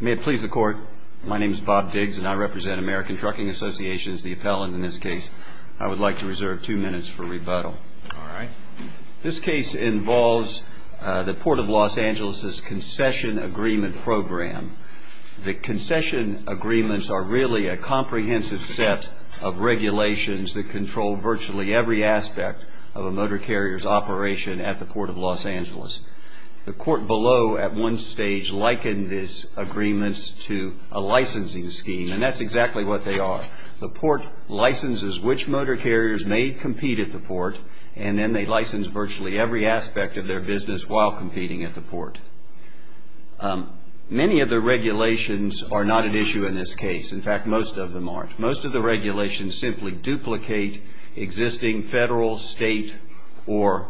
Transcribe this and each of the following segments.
May it please the Court, my name is Bob Diggs and I represent American Trucking Associations, the appellant in this case. I would like to reserve two minutes for rebuttal. Alright. This case involves the Port of Los Angeles' concession agreement program. The concession agreements are really a comprehensive set of regulations that control virtually every aspect of a motor carrier's operation at the Port of Los Angeles. The Court below at one stage likened this agreement to a licensing scheme and that's exactly what they are. The Port licenses which motor carriers may compete at the Port and then they license virtually every aspect of their business while competing at the Port. Many of the regulations are not an issue in this case. In fact, most of them aren't. Most of the regulations simply duplicate existing federal state or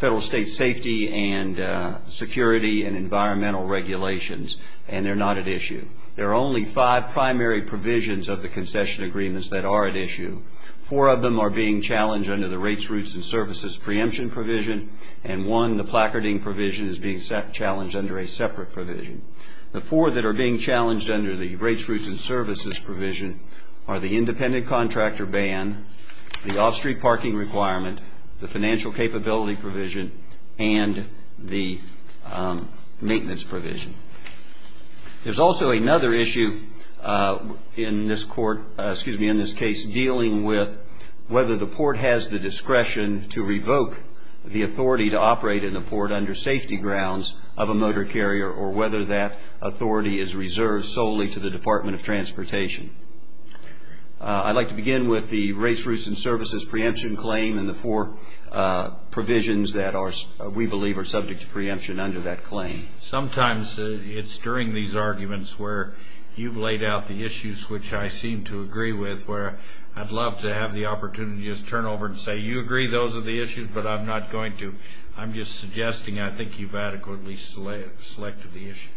federal state safety and security and environmental regulations and they're not at issue. There are only five primary provisions of the concession agreements that are at issue. Four of them are being challenged under the rates, routes, and services preemption provision and one, the placarding provision, is being challenged under a separate provision. The four that are being challenged under the rates, routes, and services provision are the independent contractor ban, the off-street parking requirement, the financial capability provision, and the maintenance provision. There's also another issue in this case dealing with whether the Port has the discretion to revoke the authority to operate in the Port under safety grounds of a motor carrier or whether that authority is reserved solely to the Department of Transportation. I'd like to begin with the rates, routes, and services preemption claim and the four provisions that we believe are subject to preemption under that claim. Sometimes it's during these arguments where you've laid out the issues which I seem to agree with where I'd love to have the opportunity to just turn over and say, you agree those are the issues but I'm not going to. I'm just suggesting I think you've adequately selected the issues.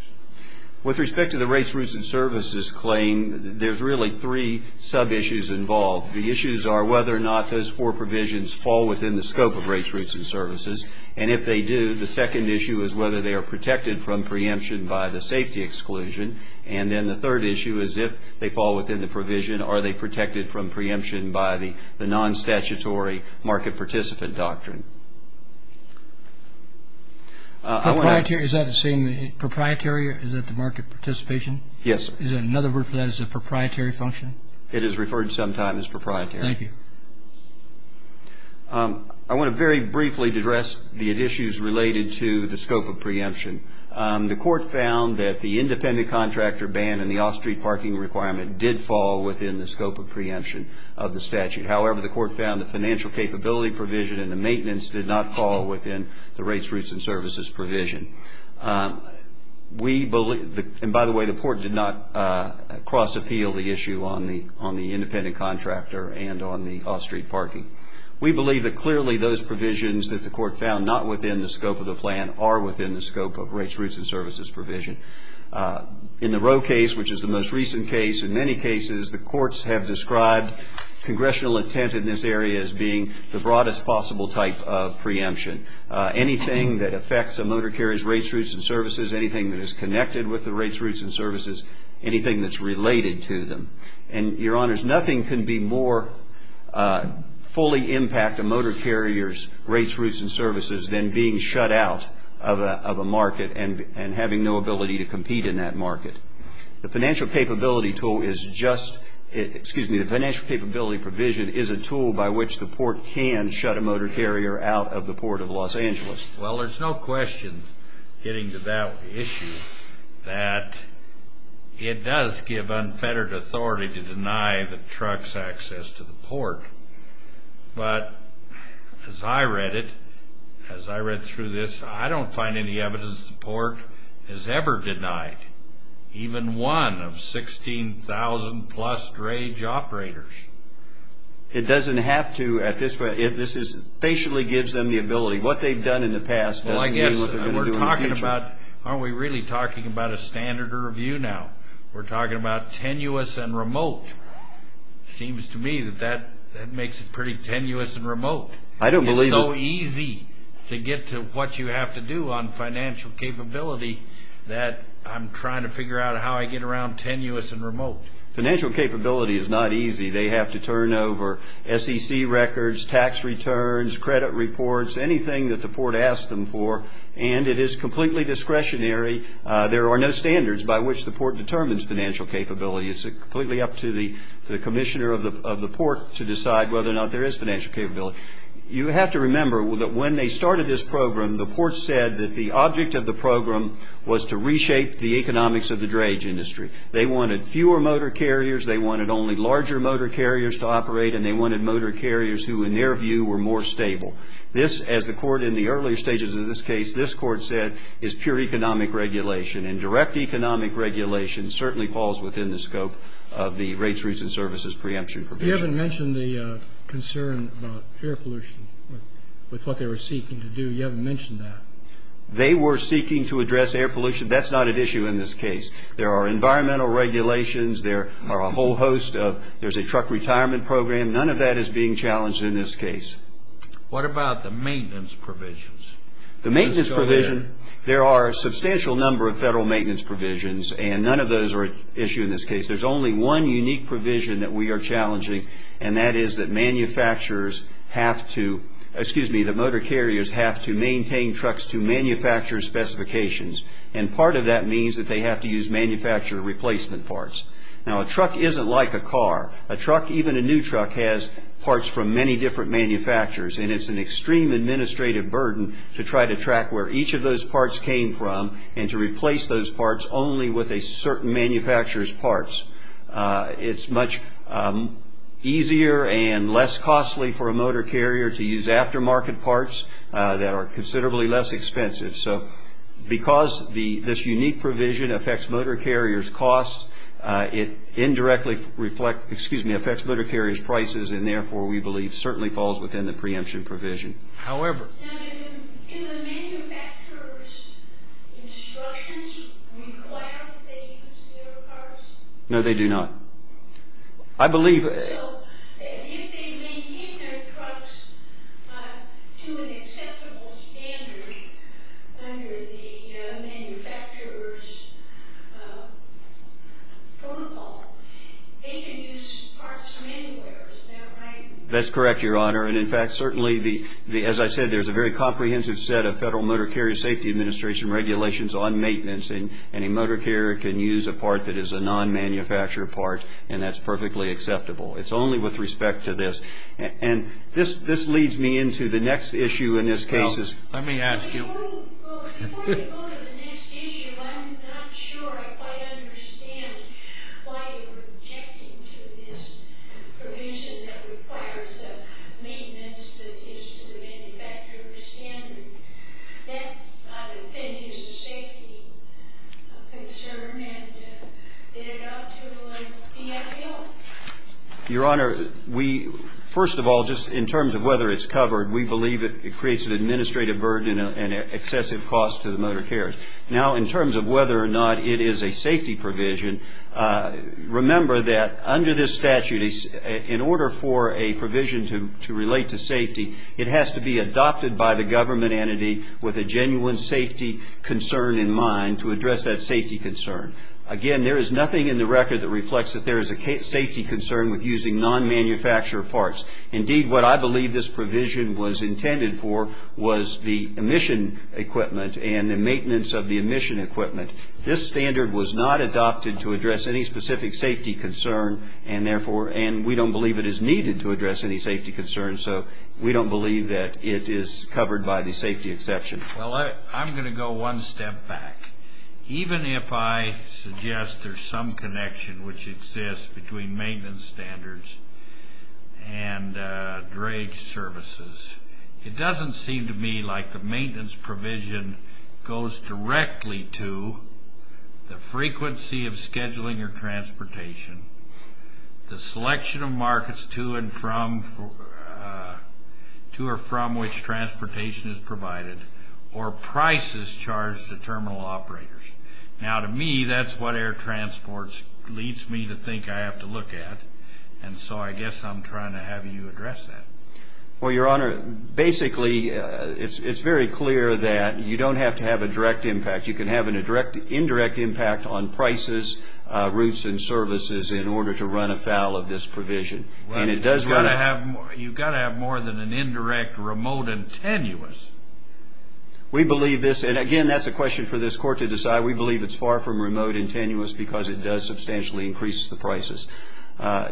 With respect to the rates, routes, and services claim, there's really three sub-issues involved. The issues are whether or not those four provisions fall within the scope of rates, routes, and services, and if they do, the second issue is whether they are protected from preemption by the safety exclusion, and then the third issue is if they fall within the provision, are they protected from preemption by the non-statutory market participant doctrine. Is that the same, proprietary, is that the market participation? Yes. Is there another word for that? Is it a proprietary function? It is referred sometimes as proprietary. Thank you. I want to very briefly address the issues related to the scope of preemption. The court found that the independent contractor ban and the off-street parking requirement did fall within the scope of preemption of the statute. However, the court found the financial capability provision and the maintenance did not fall within the rates, routes, and services provision. And by the way, the court did not cross-appeal the issue on the independent contractor and on the off-street parking. We believe that clearly those provisions that the court found not within the scope of the plan are within the scope of rates, routes, and services provision. In the Roe case, which is the most recent case, in many cases the courts have described congressional intent in this area as being the broadest possible type of preemption. Anything that affects a motor carrier's rates, routes, and services, anything that is connected with the rates, routes, and services, anything that's related to them. And, Your Honors, nothing can be more fully impact a motor carrier's rates, routes, and services than being shut out of a market and having no ability to compete in that market. The financial capability provision is a tool by which the port can shut a motor carrier out of the Port of Los Angeles. Well, there's no question, getting to that issue, that it does give unfettered authority to deny the trucks access to the port. But, as I read it, as I read through this, I don't find any evidence the port has ever denied even one of 16,000-plus drage operators. It doesn't have to at this point. This is, it basically gives them the ability. What they've done in the past doesn't mean what they're going to do in the future. Well, I guess we're talking about, aren't we really talking about a standard review now? We're talking about tenuous and remote. Seems to me that that makes it pretty tenuous and remote. It's so easy to get to what you have to do on financial capability that I'm trying to figure out how I get around tenuous and remote. Financial capability is not easy. They have to turn over SEC records, tax returns, credit reports, anything that the port asks them for, and it is completely discretionary. There are no standards by which the port determines financial capability. It's completely up to the commissioner of the port to decide whether or not there is financial capability. You have to remember that when they started this program, the port said that the object of the program was to reshape the economics of the drage industry. They wanted fewer motor carriers. They wanted only larger motor carriers to operate, and they wanted motor carriers who, in their view, were more stable. This, as the court in the earlier stages of this case, this court said, is pure economic regulation, and direct economic regulation certainly falls within the scope of the rates, routes, and services preemption provision. You haven't mentioned the concern about air pollution with what they were seeking to do. You haven't mentioned that. They were seeking to address air pollution. That's not at issue in this case. There are environmental regulations. There are a whole host of, there's a truck retirement program. None of that is being challenged in this case. What about the maintenance provisions? The maintenance provision, there are a substantial number of federal maintenance provisions, and none of those are at issue in this case. There's only one unique provision that we are challenging, and that is that manufacturers have to, excuse me, that motor carriers have to maintain trucks to manufacturer specifications, and part of that means that they have to use manufacturer replacement parts. Now, a truck isn't like a car. A truck, even a new truck, has parts from many different manufacturers, and it's an extreme administrative burden to try to track where each of those parts came from and to replace those parts only with a certain manufacturer's parts. It's much easier and less costly for a motor carrier to use aftermarket parts that are considerably less expensive. So because this unique provision affects motor carriers' costs, it indirectly reflects, excuse me, affects motor carriers' prices, and therefore we believe certainly falls within the preemption provision. However... Now, do the manufacturer's instructions require that they use their parts? No, they do not. I believe... So, if they maintain their trucks to an acceptable standard under the manufacturer's protocol, they can use parts from anywhere, is that right? That's correct, Your Honor, and in fact, certainly, as I said, there's a very comprehensive set of Federal Motor Carrier Safety Administration regulations on maintenance, and any motor carrier can use a part that is a non-manufactured part, and that's perfectly acceptable. It's only with respect to this, and this leads me into the next issue in this case is... Well, let me ask you... Before you go to the next issue, I'm not sure I quite understand why you're objecting to this provision that requires a maintenance that is to the manufacturer's standard. That, I would think, is a safety concern, and it ought to be upheld. Your Honor, we, first of all, just in terms of whether it's covered, we believe it creates an administrative burden and an excessive cost to the motor carriers. Now, in terms of whether or not it is a safety provision, remember that under this statute, in order for a provision to relate to safety, it has to be adopted by the government entity with a genuine safety concern in mind to address that safety concern. Again, there is nothing in the record that reflects that there is a safety concern with using non-manufactured parts. Indeed, what I believe this provision was intended for was the emission equipment and the maintenance of the emission equipment. This standard was not adopted to address any specific safety concern, and we don't believe it is needed to address any safety concern, so we don't believe that it is covered by the safety exception. Well, I'm going to go one step back. Even if I suggest there's some connection which exists between maintenance standards and dredge services, it doesn't seem to me like the maintenance provision goes directly to the frequency of scheduling your transportation, the selection of markets to and from, to or from which transportation is provided, or prices charged to terminal operators. Now, to me, that's what air transport leads me to think I have to look at, and so I guess I'm trying to have you address that. Well, Your Honor, basically, it's very clear that you don't have to have a direct impact. You can have an indirect impact on prices, routes, and services in order to run afoul of this provision. You've got to have more than an indirect remote and tenuous. We believe this, and again, that's a question for this Court to decide. We believe it's far from remote and tenuous because it does substantially increase the prices.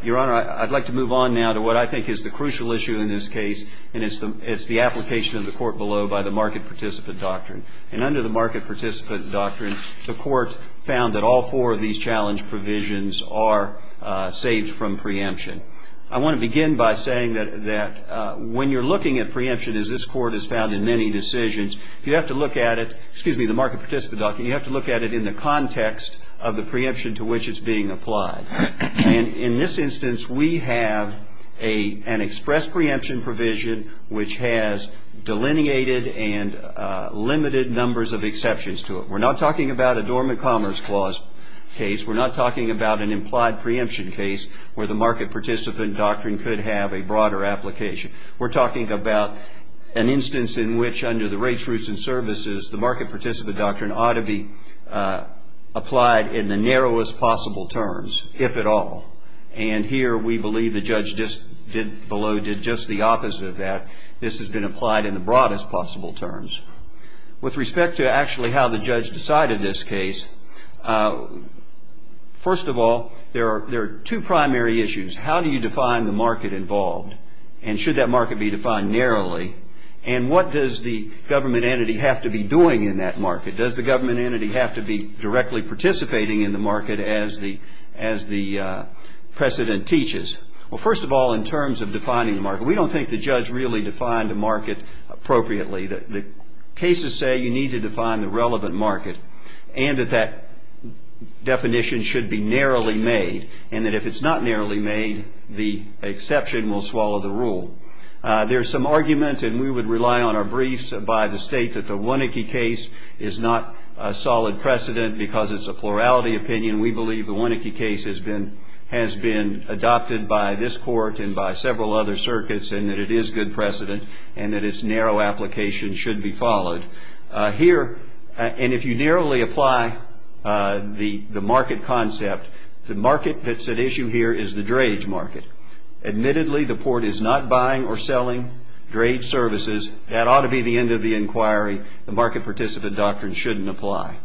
Your Honor, I'd like to move on now to what I think is the crucial issue in this case, and it's the application of the Court below by the market participant doctrine. And under the market participant doctrine, the Court found that all four of these challenge provisions are saved from preemption. I want to begin by saying that when you're looking at preemption, as this Court has found in many decisions, you have to look at it, excuse me, the market participant doctrine, you have to look at it in the context of the preemption to which it's being applied. And in this instance, we have an express preemption provision which has delineated and limited numbers of exceptions to it. We're not talking about a dormant commerce clause case. We're not talking about an implied preemption case where the market participant doctrine could have a broader application. We're talking about an instance in which, under the rates, routes, and services, the market participant doctrine ought to be applied in the narrowest possible terms, if at all. And here, we believe the judge below did just the opposite of that. This has been applied in the broadest possible terms. With respect to actually how the judge decided this case, first of all, there are two primary issues. How do you define the market involved? And should that market be defined narrowly? And what does the government entity have to be doing in that market? Does the government entity have to be directly participating in the market as the precedent teaches? Well, first of all, in terms of defining the market, we don't think the judge really defined the market appropriately. The cases say you need to define the relevant market and that that definition should be narrowly made and that if it's not narrowly made, the exception will swallow the rule. There's some argument, and we would rely on our briefs, by the state that the Wonecki case is not a solid precedent because it's a plurality opinion. We believe the Wonecki case has been adopted by this court and by several other circuits and that it is good precedent and that its narrow application should be followed. Here, and if you narrowly apply the market concept, the market that's at issue here is the dredge market. Admittedly, the court is not buying or selling dredge services. That ought to be the end of the inquiry. The market participant doctrine shouldn't apply.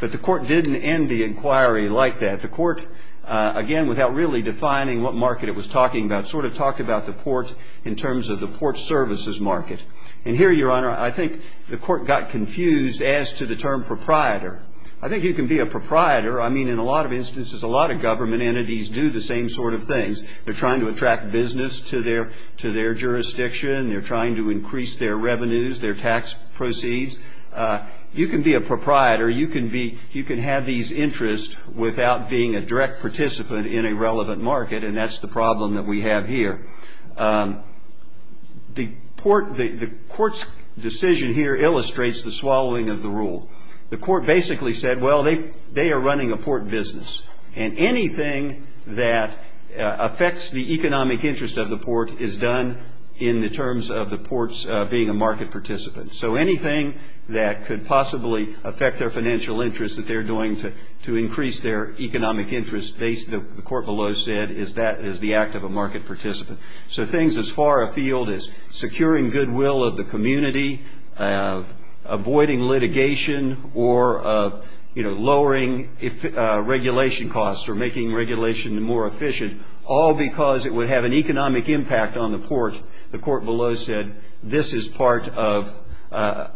But the court didn't end the inquiry like that. The court, again, without really defining what market it was talking about, sort of talked about the port in terms of the port services market. And here, Your Honor, I think the court got confused as to the term proprietor. I think you can be a proprietor. I mean, in a lot of instances, a lot of government entities do the same sort of things. They're trying to attract business to their jurisdiction. They're trying to increase their revenues, their tax proceeds. You can be a proprietor. You can have these interests without being a direct participant in a relevant market, and that's the problem that we have here. The court's decision here illustrates the swallowing of the rule. The court basically said, well, they are running a port business. And anything that affects the economic interest of the port is done in the terms of the ports being a market participant. So anything that could possibly affect their financial interest that they're doing to increase their economic interest, the court below said, is the act of a market participant. So things as far afield as securing goodwill of the community, avoiding litigation or lowering regulation costs or making regulation more efficient, all because it would have an economic impact on the port, the court below said, this is part of,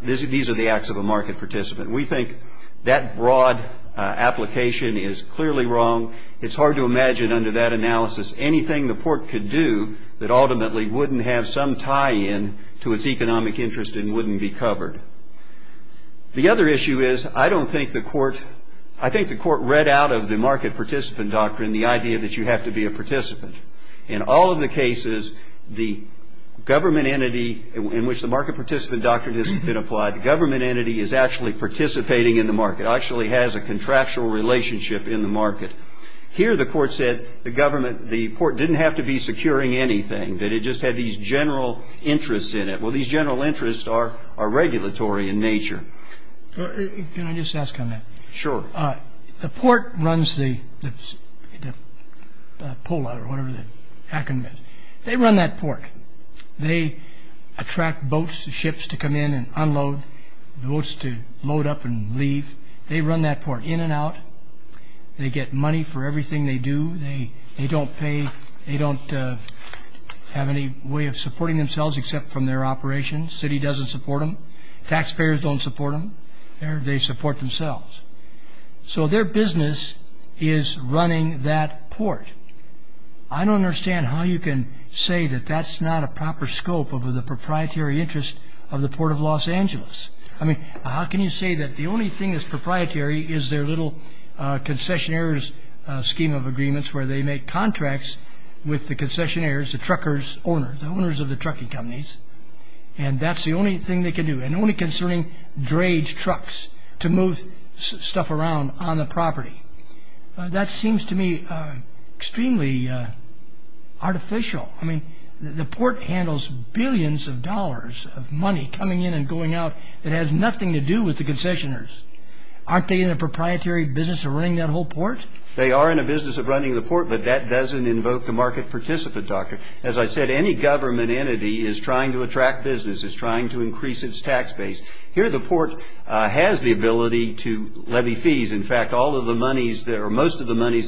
these are the acts of a market participant. We think that broad application is clearly wrong. It's hard to imagine under that analysis anything the port could do that ultimately wouldn't have some tie-in to its economic interest and wouldn't be covered. The other issue is I don't think the court, I think the court read out of the market participant doctrine the idea that you have to be a participant. In all of the cases, the government entity in which the market participant doctrine has been applied, the government entity is actually participating in the market, actually has a contractual relationship in the market. Here the court said the government, the port didn't have to be securing anything, that it just had these general interests in it. Well, these general interests are regulatory in nature. Can I just ask on that? Sure. The port runs the pull-out or whatever the acronym is. They run that port. They attract boats, ships to come in and unload, boats to load up and leave. They run that port in and out. They get money for everything they do. They don't pay. They don't have any way of supporting themselves except from their operations. The city doesn't support them. Taxpayers don't support them. They support themselves. So their business is running that port. I don't understand how you can say that that's not a proper scope of the proprietary interest of the Port of Los Angeles. I mean, how can you say that the only thing that's proprietary is their little concessionaire's scheme of agreements where they make contracts with the concessionaires, the truckers' owners, the owners of the trucking companies, and that's the only thing they can do, and only concerning dredge trucks to move stuff around on the property. That seems to me extremely artificial. I mean, the port handles billions of dollars of money coming in and going out that has nothing to do with the concessionaires. Aren't they in a proprietary business of running that whole port? They are in a business of running the port, but that doesn't invoke the market participant, Doctor. As I said, any government entity is trying to attract business. It's trying to increase its tax base. Here the port has the ability to levy fees. In fact, most of the monies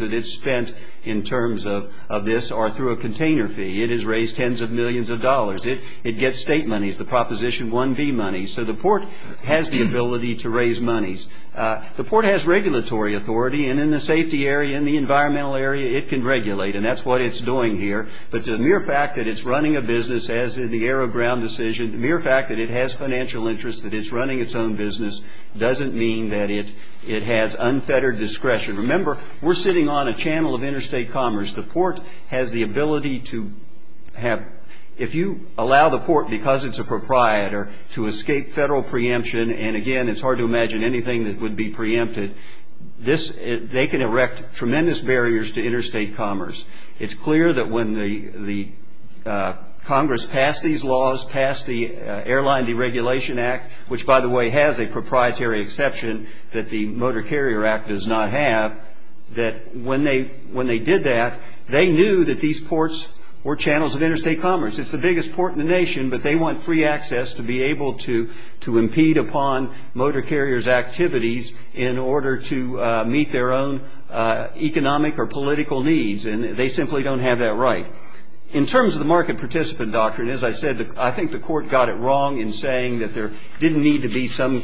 that it's spent in terms of this are through a container fee. It has raised tens of millions of dollars. It gets state monies, the Proposition 1B monies. So the port has the ability to raise monies. The port has regulatory authority, and in the safety area, in the environmental area, it can regulate, and that's what it's doing here. But the mere fact that it's running a business, as in the Arrow Ground decision, the mere fact that it has financial interests, that it's running its own business, doesn't mean that it has unfettered discretion. Remember, we're sitting on a channel of interstate commerce. The port has the ability to have, if you allow the port, because it's a proprietor, to escape federal preemption, and again, it's hard to imagine anything that would be preempted, they can erect tremendous barriers to interstate commerce. It's clear that when the Congress passed these laws, passed the Airline Deregulation Act, which, by the way, has a proprietary exception that the Motor Carrier Act does not have, that when they did that, they knew that these ports were channels of interstate commerce. It's the biggest port in the nation, but they want free access to be able to impede upon motor carriers' activities in order to meet their own economic or political needs, and they simply don't have that right. In terms of the market participant doctrine, as I said, I think the court got it wrong in saying that there didn't need to be some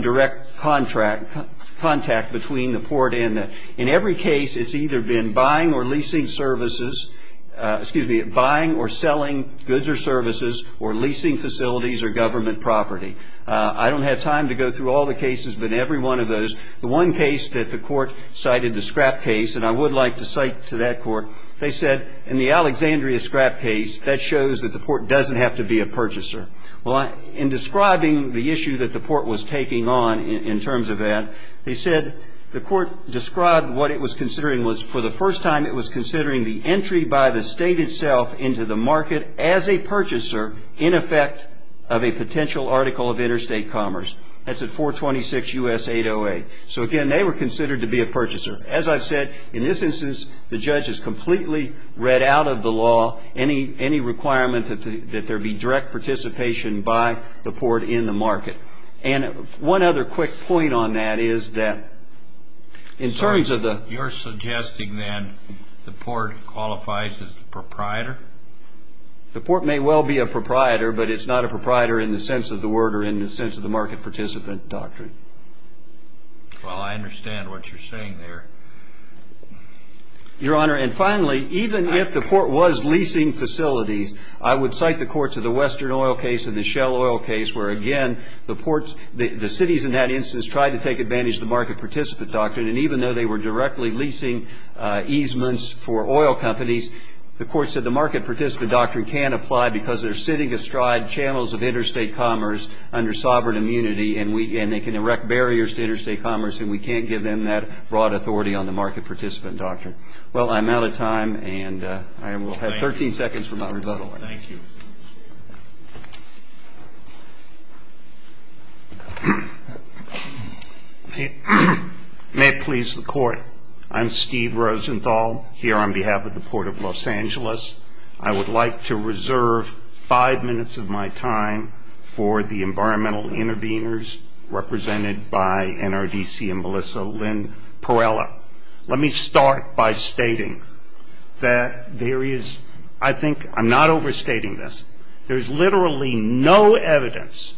direct contact between the port and the ____. In every case, it's either been buying or leasing services, excuse me, buying or selling goods or services or leasing facilities or government property. I don't have time to go through all the cases, but every one of those, the one case that the court cited, the scrap case, and I would like to cite to that court, they said, in the Alexandria scrap case, that shows that the port doesn't have to be a purchaser. Well, in describing the issue that the port was taking on in terms of that, they said, the court described what it was considering was, for the first time, it was considering the entry by the state itself into the market as a purchaser in effect of a potential article of interstate commerce. That's at 426 U.S. 808. So, again, they were considered to be a purchaser. As I've said, in this instance, the judge has completely read out of the law any requirement that there be direct participation by the port in the market. And one other quick point on that is that in terms of the ______. You're suggesting then the port qualifies as the proprietor? The port may well be a proprietor, but it's not a proprietor in the sense of the word or in the sense of the market participant doctrine. Well, I understand what you're saying there. Your Honor, and finally, even if the port was leasing facilities, I would cite the court to the Western Oil case and the Shell Oil case where, again, the ports, the cities in that instance tried to take advantage of the market participant doctrine, and even though they were directly leasing easements for oil companies, the court said the market participant doctrine can't apply because they're sitting astride channels of interstate commerce under sovereign immunity and they can erect barriers to interstate commerce, and we can't give them that broad authority on the market participant doctrine. Well, I'm out of time, and I will have 13 seconds for my rebuttal. Thank you. May it please the Court, I'm Steve Rosenthal here on behalf of the Port of Los Angeles. I would like to reserve five minutes of my time for the environmental interveners represented by NRDC and Melissa Lynn Perella. Let me start by stating that there is, I think, I'm not overstating this, there's literally no evidence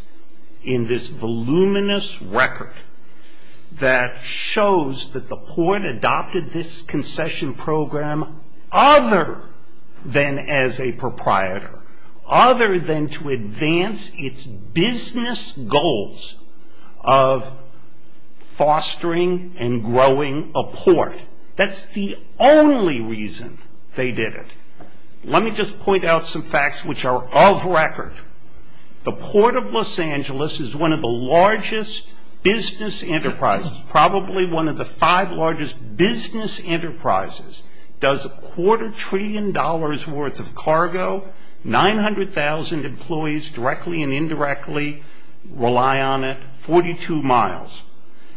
in this voluminous record that shows that the port adopted this concession program other than as a proprietor, other than to advance its business goals of fostering and growing a port. That's the only reason they did it. Let me just point out some facts which are of record. The Port of Los Angeles is one of the largest business enterprises, probably one of the five largest business enterprises, does a quarter trillion dollars worth of cargo, 900,000 employees directly and indirectly rely on it, 42 miles.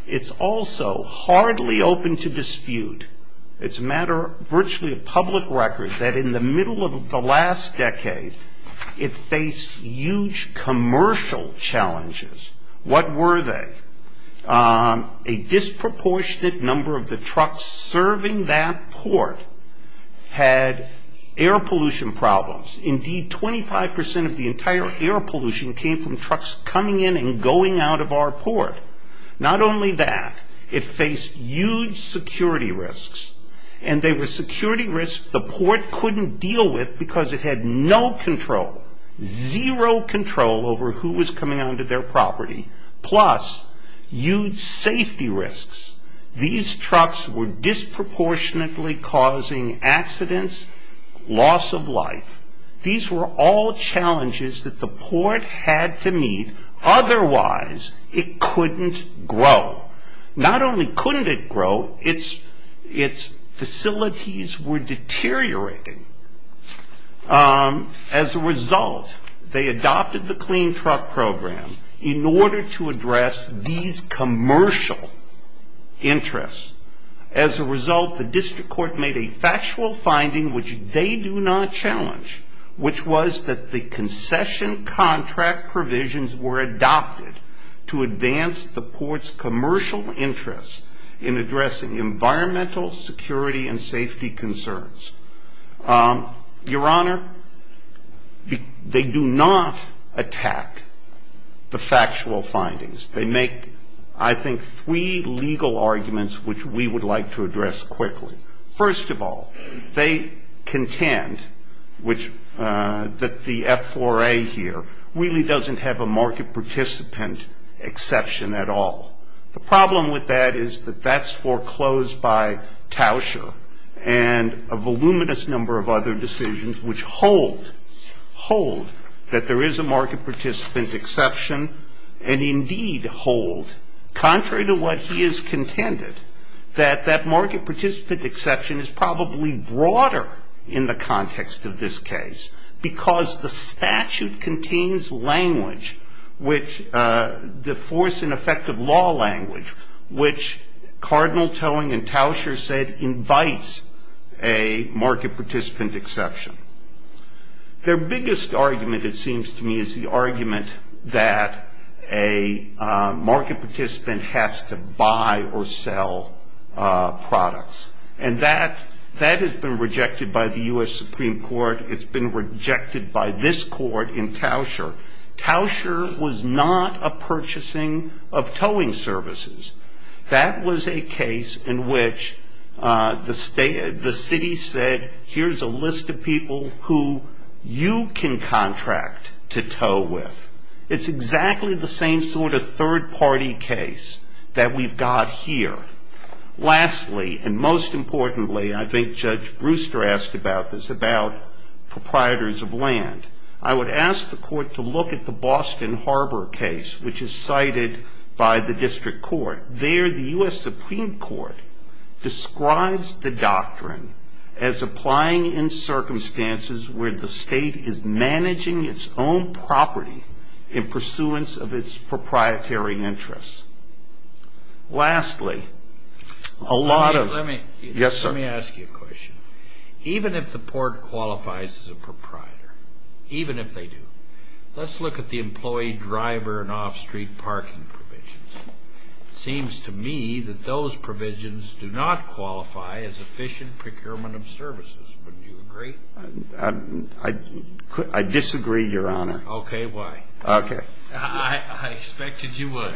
It's also hardly open to dispute. It's a matter of virtually a public record that in the middle of the last decade, it faced huge commercial challenges. What were they? A disproportionate number of the trucks serving that port had air pollution problems. Indeed, 25 percent of the entire air pollution came from trucks coming in and going out of our port. Not only that, it faced huge security risks, and they were security risks the port couldn't deal with because it had no control, zero control over who was coming onto their property, plus huge safety risks. These trucks were disproportionately causing accidents, loss of life. These were all challenges that the port had to meet. Otherwise, it couldn't grow. Not only couldn't it grow, its facilities were deteriorating. As a result, they adopted the clean truck program in order to address these commercial interests. As a result, the district court made a factual finding which they do not challenge, which was that the concession contract provisions were adopted to advance the port's commercial interests in addressing environmental security and safety concerns. Your Honor, they do not attack the factual findings. They make, I think, three legal arguments which we would like to address quickly. First of all, they contend that the F4A here really doesn't have a market participant exception at all. The problem with that is that that's foreclosed by Tauscher and a voluminous number of other decisions which hold that there is a market participant exception, and indeed hold, contrary to what he has contended, that that market participant exception is probably broader in the context of this case because the statute contains language, the force and effect of law language, which Cardinal Towing and Tauscher said invites a market participant exception. Their biggest argument, it seems to me, is the argument that a market participant has to buy or sell products, and that has been rejected by the U.S. Supreme Court. It's been rejected by this court in Tauscher. Tauscher was not a purchasing of towing services. That was a case in which the city said, here's a list of people who you can contract to tow with. It's exactly the same sort of third-party case that we've got here. Lastly, and most importantly, I think Judge Brewster asked about this, about proprietors of land, I would ask the court to look at the Boston Harbor case, which is cited by the district court. There the U.S. Supreme Court describes the doctrine as applying in circumstances where the state is managing its own property in pursuance of its proprietary interests. Lastly, a lot of... Let me... Yes, sir. Let me ask you a question. Even if the court qualifies as a proprietor, even if they do, let's look at the employee driver and off-street parking provisions. It seems to me that those provisions do not qualify as efficient procurement of services. Wouldn't you agree? I disagree, Your Honor. Okay, why? Okay. I expected you would.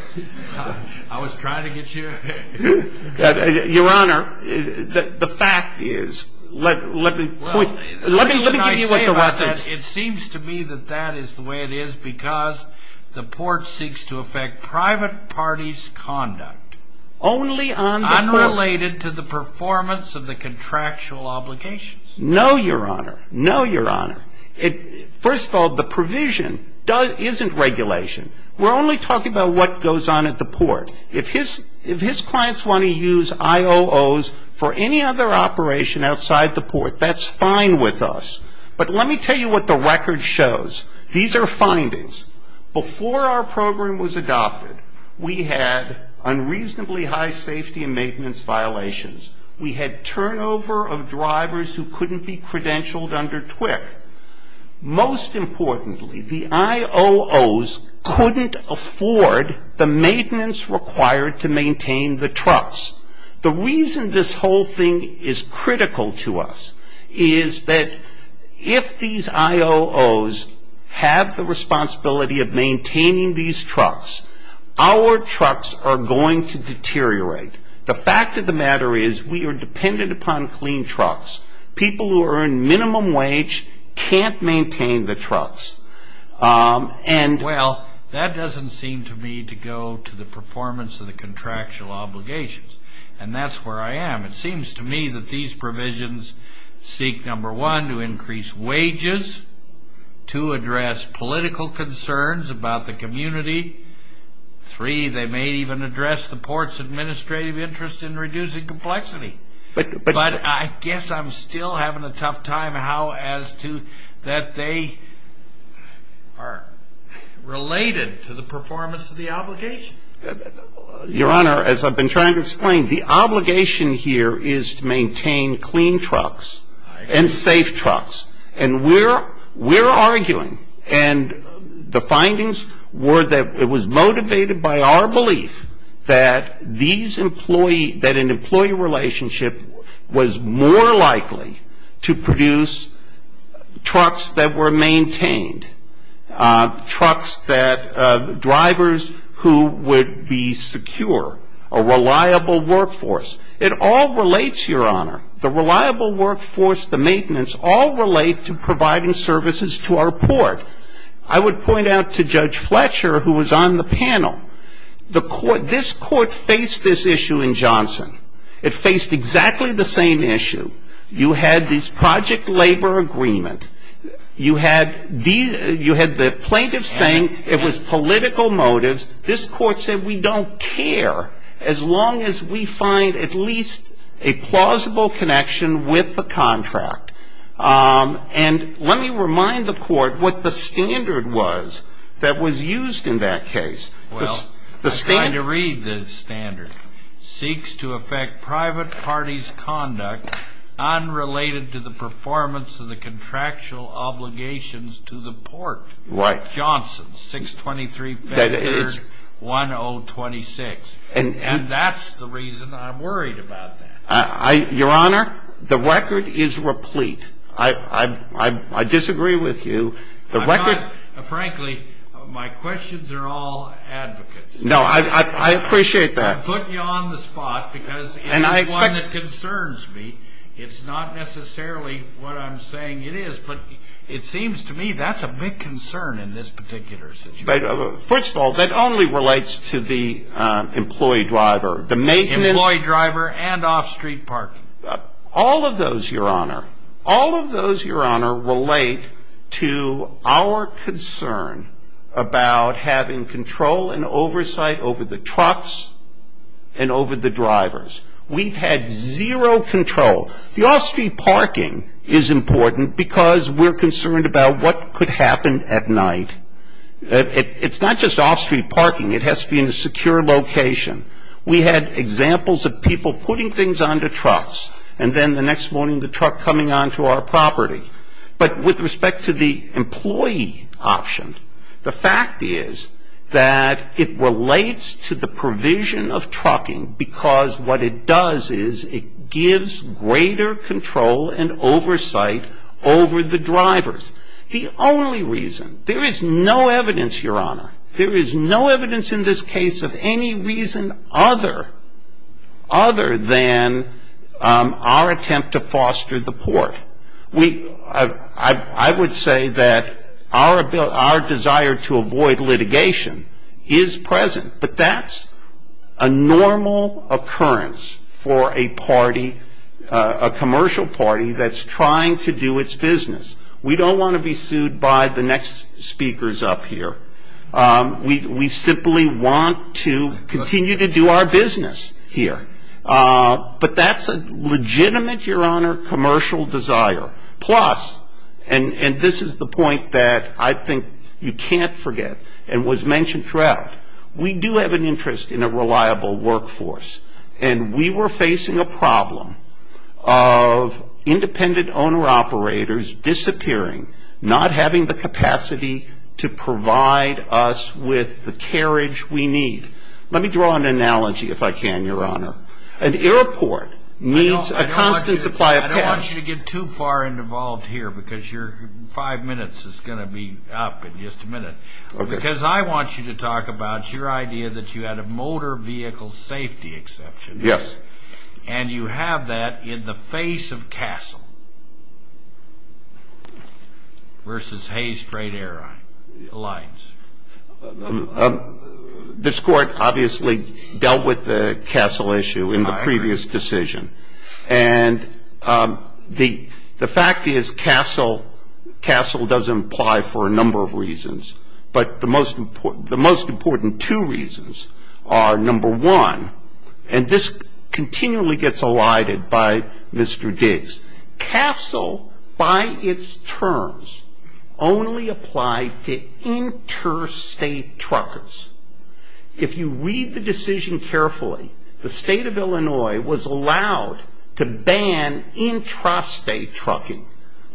I was trying to get you... Your Honor, the fact is, let me point... Let me give you what the record is. It seems to me that that is the way it is because the court seeks to affect private parties' conduct. Only on the court. Unrelated to the performance of the contractual obligations. No, Your Honor. No, Your Honor. First of all, the provision isn't regulation. We're only talking about what goes on at the port. If his clients want to use IOOs for any other operation outside the port, that's fine with us. But let me tell you what the record shows. These are findings. Before our program was adopted, we had unreasonably high safety and maintenance violations. We had turnover of drivers who couldn't be credentialed under TWIC. Most importantly, the IOOs couldn't afford the maintenance required to maintain the trucks. The reason this whole thing is critical to us is that if these IOOs have the responsibility of maintaining these trucks, our trucks are going to deteriorate. The fact of the matter is we are dependent upon clean trucks. People who earn minimum wage can't maintain the trucks. Well, that doesn't seem to me to go to the performance of the contractual obligations. And that's where I am. It seems to me that these provisions seek, number one, to increase wages, two, address political concerns about the community, three, they may even address the port's administrative interest in reducing complexity. But I guess I'm still having a tough time how as to that they are related to the performance of the obligation. Your Honor, as I've been trying to explain, the obligation here is to maintain clean trucks and safe trucks. And we're arguing and the findings were that it was motivated by our belief that these employees, that an employee relationship was more likely to produce trucks that were maintained, trucks that drivers who would be secure, a reliable workforce. It all relates, Your Honor. The reliable workforce, the maintenance, all relate to providing services to our port. I would point out to Judge Fletcher, who was on the panel, this court faced this issue in Johnson. It faced exactly the same issue. You had this project labor agreement. You had the plaintiff saying it was political motives. This court said we don't care as long as we find at least a plausible connection with the contract. And let me remind the court what the standard was that was used in that case. Well, I tried to read the standard. Seeks to affect private party's conduct unrelated to the performance of the contractual obligations to the port. Right. That's Johnson, 623 5th 3rd 1026. And that's the reason I'm worried about that. Your Honor, the record is replete. I disagree with you. Frankly, my questions are all advocates. No, I appreciate that. I'm putting you on the spot because it is one that concerns me. It's not necessarily what I'm saying it is. But it seems to me that's a big concern in this particular situation. First of all, that only relates to the employee driver. The maintenance. Employee driver and off street parking. All of those, Your Honor. All of those, Your Honor, relate to our concern about having control and oversight over the trucks and over the drivers. We've had zero control. The off street parking is important because we're concerned about what could happen at night. It's not just off street parking. It has to be in a secure location. We had examples of people putting things onto trucks and then the next morning the truck coming onto our property. But with respect to the employee option, the fact is that it relates to the provision of trucking because what it does is it gives greater control and oversight over the drivers. The only reason, there is no evidence, Your Honor, there is no evidence in this case of any reason other than our attempt to foster the port. I would say that our desire to avoid litigation is present. But that's a normal occurrence for a party, a commercial party that's trying to do its business. We don't want to be sued by the next speakers up here. We simply want to continue to do our business here. But that's a legitimate, Your Honor, commercial desire. Plus, and this is the point that I think you can't forget and was mentioned throughout, we do have an interest in a reliable workforce. And we were facing a problem of independent owner operators disappearing, not having the capacity to provide us with the carriage we need. Let me draw an analogy, if I can, Your Honor. An airport needs a constant supply of cash. I don't want you to get too far involved here because your five minutes is going to be up in just a minute. Because I want you to talk about your idea that you had a motor vehicle safety exception. Yes. And you have that in the face of Castle versus Hayes Freight Airlines. This Court obviously dealt with the Castle issue in the previous decision. And the fact is Castle doesn't apply for a number of reasons. But the most important two reasons are, number one, and this continually gets elided by Mr. Diggs, Castle, by its terms, only applied to interstate truckers. If you read the decision carefully, the State of Illinois was allowed to ban intrastate trucking.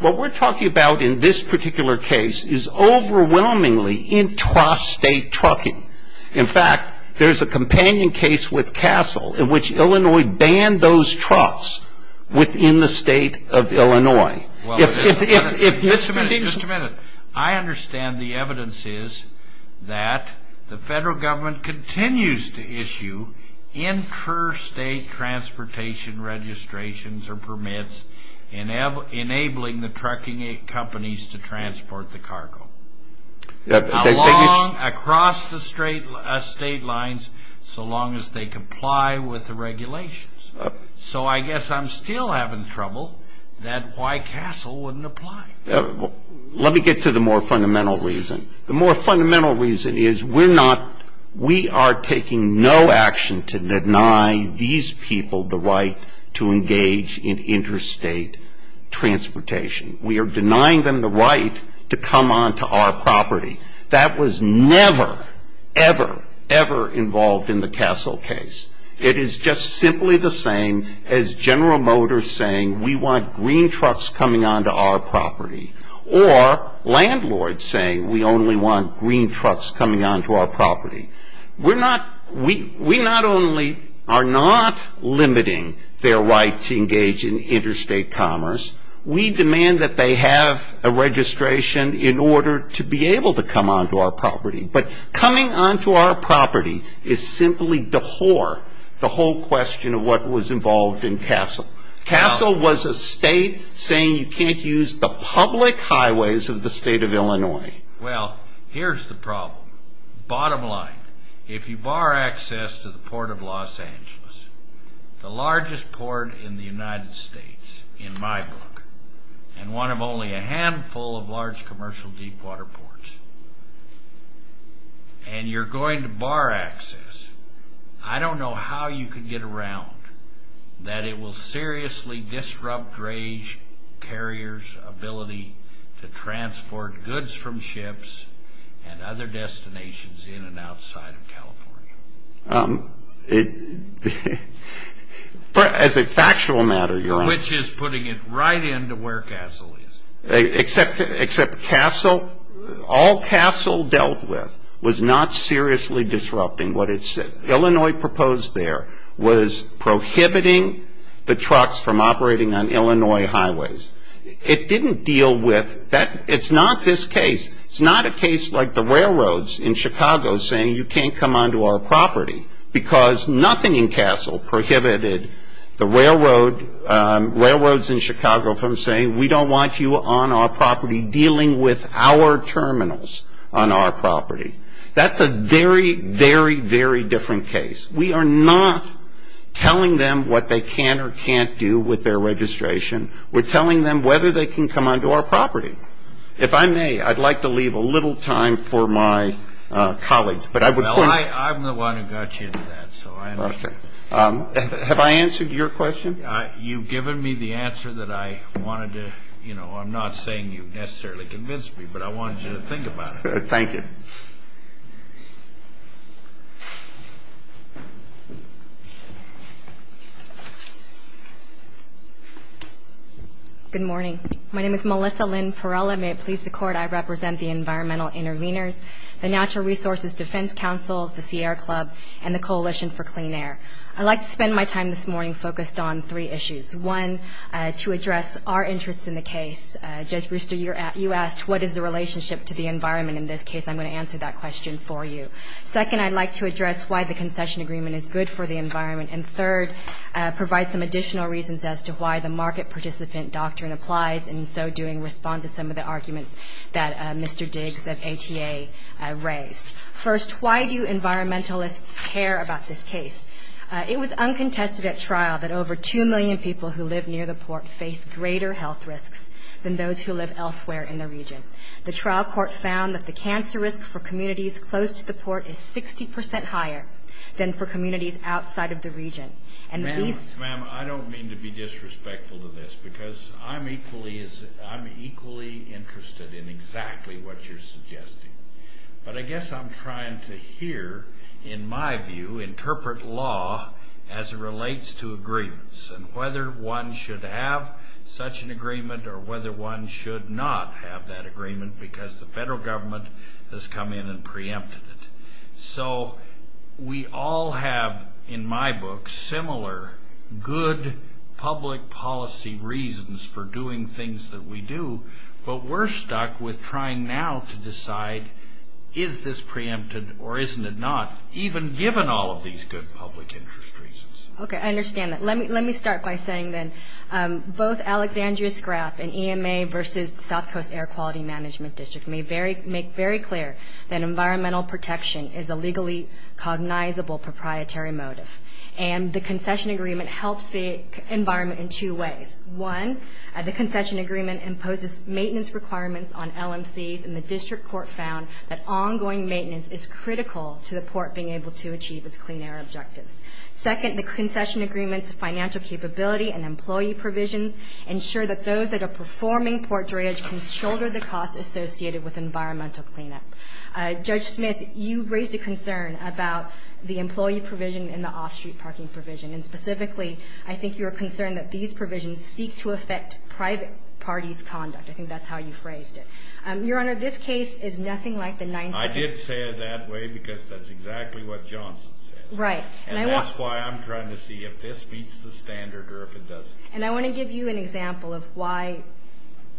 What we're talking about in this particular case is overwhelmingly intrastate trucking. In fact, there's a companion case with Castle in which Illinois banned those trucks within the State of Illinois. Just a minute. I understand the evidence is that the federal government continues to issue intrastate transportation registrations or permits enabling the trucking companies to transport the cargo. Along, across the state lines so long as they comply with the regulations. So I guess I'm still having trouble that why Castle wouldn't apply. Let me get to the more fundamental reason. The more fundamental reason is we're not, we are taking no action to deny these people the right to engage in intrastate transportation. We are denying them the right to come onto our property. That was never, ever, ever involved in the Castle case. It is just simply the same as General Motors saying we want green trucks coming onto our property or landlords saying we only want green trucks coming onto our property. We're not, we not only are not limiting their right to engage in intrastate commerce, we demand that they have a registration in order to be able to come onto our property. But coming onto our property is simply to whore the whole question of what was involved in Castle. Castle was a state saying you can't use the public highways of the State of Illinois. Well, here's the problem. Bottom line, if you bar access to the Port of Los Angeles, the largest port in the United States, in my book, and one of only a handful of large commercial deep water ports, and you're going to bar access, I don't know how you can get around that it will seriously disrupt drayage carriers' ability to transport goods from ships and other destinations in and outside of California. As a factual matter, Your Honor. Which is putting it right into where Castle is. Except Castle, all Castle dealt with was not seriously disrupting what it said. Illinois proposed there was prohibiting the trucks from operating on Illinois highways. It didn't deal with that. It's not this case. It's not a case like the railroads in Chicago saying you can't come onto our property. Because nothing in Castle prohibited the railroads in Chicago from saying we don't want you on our property dealing with our terminals on our property. That's a very, very, very different case. We are not telling them what they can or can't do with their registration. We're telling them whether they can come onto our property. If I may, I'd like to leave a little time for my colleagues, but I would point out. Well, I'm the one who got you into that, so I understand. Have I answered your question? You've given me the answer that I wanted to, you know, I'm not saying you necessarily convinced me, but I wanted you to think about it. Thank you. Good morning. My name is Melissa Lynn Perrella. May it please the Court, I represent the Environmental Intervenors, the Natural Resources Defense Council, the Sierra Club, and the Coalition for Clean Air. I'd like to spend my time this morning focused on three issues. One, to address our interest in the case. Judge Brewster, you asked what is the relationship to the environment in this case. I'm going to answer that question for you. Second, I'd like to address why the concession agreement is good for the environment. And third, provide some additional reasons as to why the market participant doctrine applies and in so doing respond to some of the arguments that Mr. Diggs of ATA raised. First, why do you environmentalists care about this case? It was uncontested at trial that over 2 million people who live near the port face greater health risks than those who live elsewhere in the region. The trial court found that the cancer risk for communities close to the port is 60% higher than for communities outside of the region. Ma'am, I don't mean to be disrespectful to this because I'm equally interested in exactly what you're suggesting. But I guess I'm trying to hear, in my view, interpret law as it relates to agreements and whether one should have such an agreement or whether one should not have that agreement because the federal government has come in and preempted it. So we all have, in my book, similar good public policy reasons for doing things that we do, but we're stuck with trying now to decide is this preempted or isn't it not, even given all of these good public interest reasons. Okay, I understand that. Let me start by saying then both Alexandria Scrapp and EMA versus the South Coast Air Quality Management District make very clear that environmental protection is a legally cognizable proprietary motive. And the concession agreement helps the environment in two ways. One, the concession agreement imposes maintenance requirements on LMCs, and the district court found that ongoing maintenance is critical to the port being able to achieve its clean air objectives. Second, the concession agreement's financial capability and employee provisions ensure that those that are performing port drainage can shoulder the costs associated with environmental cleanup. Judge Smith, you raised a concern about the employee provision and the off-street parking provision. And specifically, I think you were concerned that these provisions seek to affect private parties' conduct. I think that's how you phrased it. Your Honor, this case is nothing like the Ninth Circuit. I did say it that way because that's exactly what Johnson says. Right. And that's why I'm trying to see if this meets the standard or if it doesn't. And I want to give you an example of why,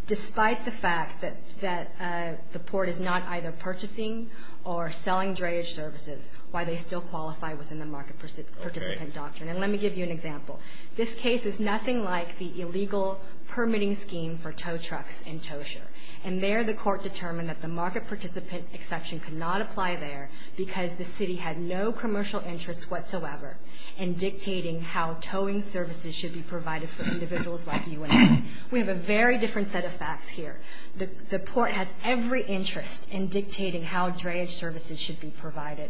despite the fact that the port is not either purchasing or selling drainage services, why they still qualify within the market participant doctrine. Okay. And let me give you an example. This case is nothing like the illegal permitting scheme for tow trucks in Tosher. And there, the court determined that the market participant exception could not apply there because the city had no commercial interest whatsoever in dictating how towing services should be provided for individuals like you and me. We have a very different set of facts here. The port has every interest in dictating how drainage services should be provided.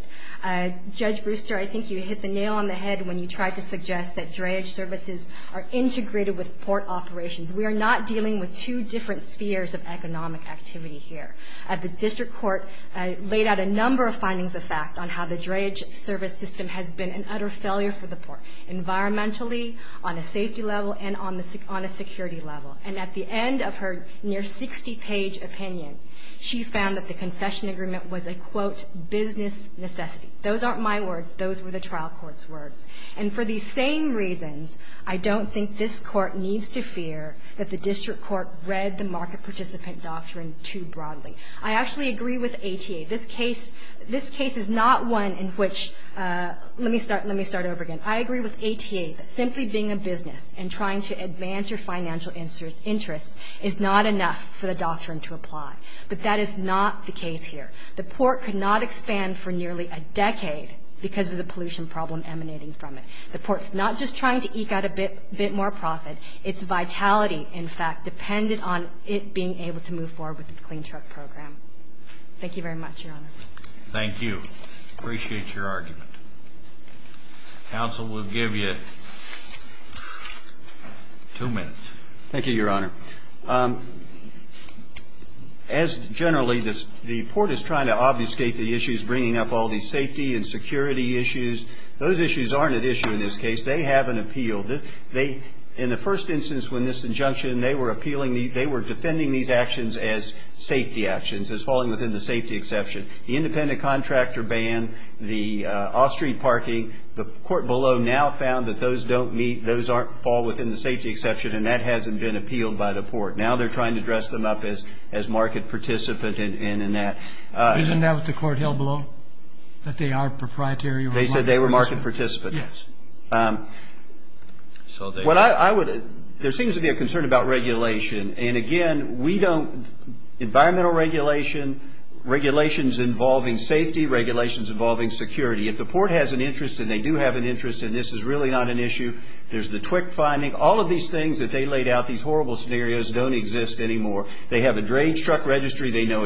Judge Brewster, I think you hit the nail on the head when you tried to suggest that drainage services are integrated with port operations. We are not dealing with two different spheres of economic activity here. The district court laid out a number of findings of fact on how the drainage service system has been an utter failure for the port, environmentally, on a safety level, and on a security level. And at the end of her near 60-page opinion, she found that the concession agreement was a, quote, business necessity. Those aren't my words. Those were the trial court's words. And for these same reasons, I don't think this court needs to fear that the district court read the market participant doctrine too broadly. I actually agree with ATA. This case is not one in which ‑‑ let me start over again. I agree with ATA that simply being a business and trying to advance your financial interests is not enough for the doctrine to apply. But that is not the case here. The port could not expand for nearly a decade because of the pollution problem emanating from it. The port's not just trying to eke out a bit more profit. Its vitality, in fact, depended on it being able to move forward with its clean truck program. Thank you very much, Your Honor. Thank you. Appreciate your argument. Counsel will give you two minutes. Thank you, Your Honor. As generally, the port is trying to obfuscate the issues bringing up all these safety and security issues. Those issues aren't at issue in this case. They haven't appealed. In the first instance when this injunction, they were appealing, they were defending these actions as safety actions, as falling within the safety exception. The independent contractor ban, the off‑street parking, the court below now found that those don't meet, those fall within the safety exception, and that hasn't been appealed by the port. Now they're trying to dress them up as market participant in that. Isn't that what the court held below, that they are proprietary? They said they were market participant. Yes. There seems to be a concern about regulation. And, again, we don't ‑‑ environmental regulation, regulations involving safety, regulations involving security. If the port has an interest and they do have an interest and this is really not an issue, there's the TWIC finding. All of these things that they laid out, these horrible scenarios, don't exist anymore. They have a drage truck registry. They know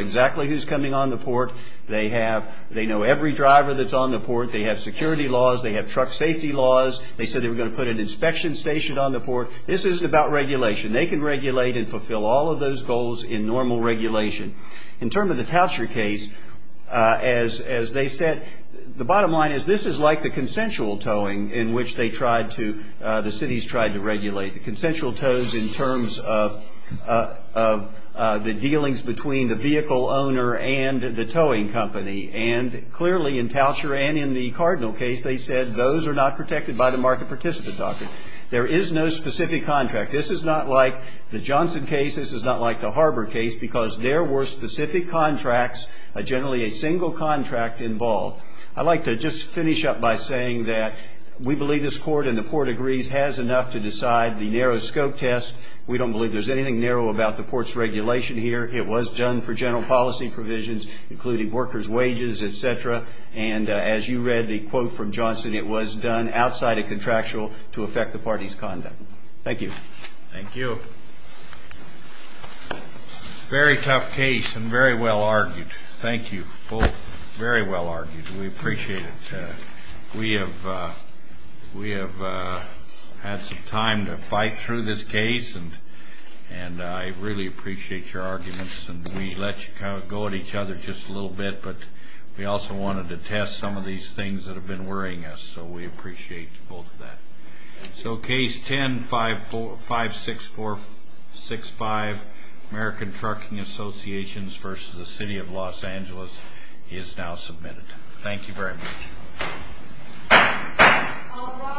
every driver that's on the port. They have security laws. They have truck safety laws. They said they were going to put an inspection station on the port. This isn't about regulation. They can regulate and fulfill all of those goals in normal regulation. In terms of the Toucher case, as they said, the bottom line is this is like the consensual towing in which they tried to, the cities tried to regulate, the consensual tows in terms of the dealings between the vehicle owner and the towing company. And, clearly, in Toucher and in the Cardinal case, they said those are not protected by the market participant doctrine. There is no specific contract. This is not like the Johnson case. This is not like the Harbor case because there were specific contracts, generally a single contract involved. I'd like to just finish up by saying that we believe this court and the port agrees has enough to decide the narrow scope test. We don't believe there's anything narrow about the port's regulation here. It was done for general policy provisions, including workers' wages, et cetera. And as you read the quote from Johnson, it was done outside of contractual to affect the party's conduct. Thank you. Thank you. Very tough case and very well argued. Thank you. Very well argued. We appreciate it. We have had some time to fight through this case, and I really appreciate your arguments. We let you go at each other just a little bit, but we also wanted to test some of these things that have been worrying us, so we appreciate both of that. Case 10-56465, American Trucking Associations v. City of Los Angeles, is now submitted. Thank you very much.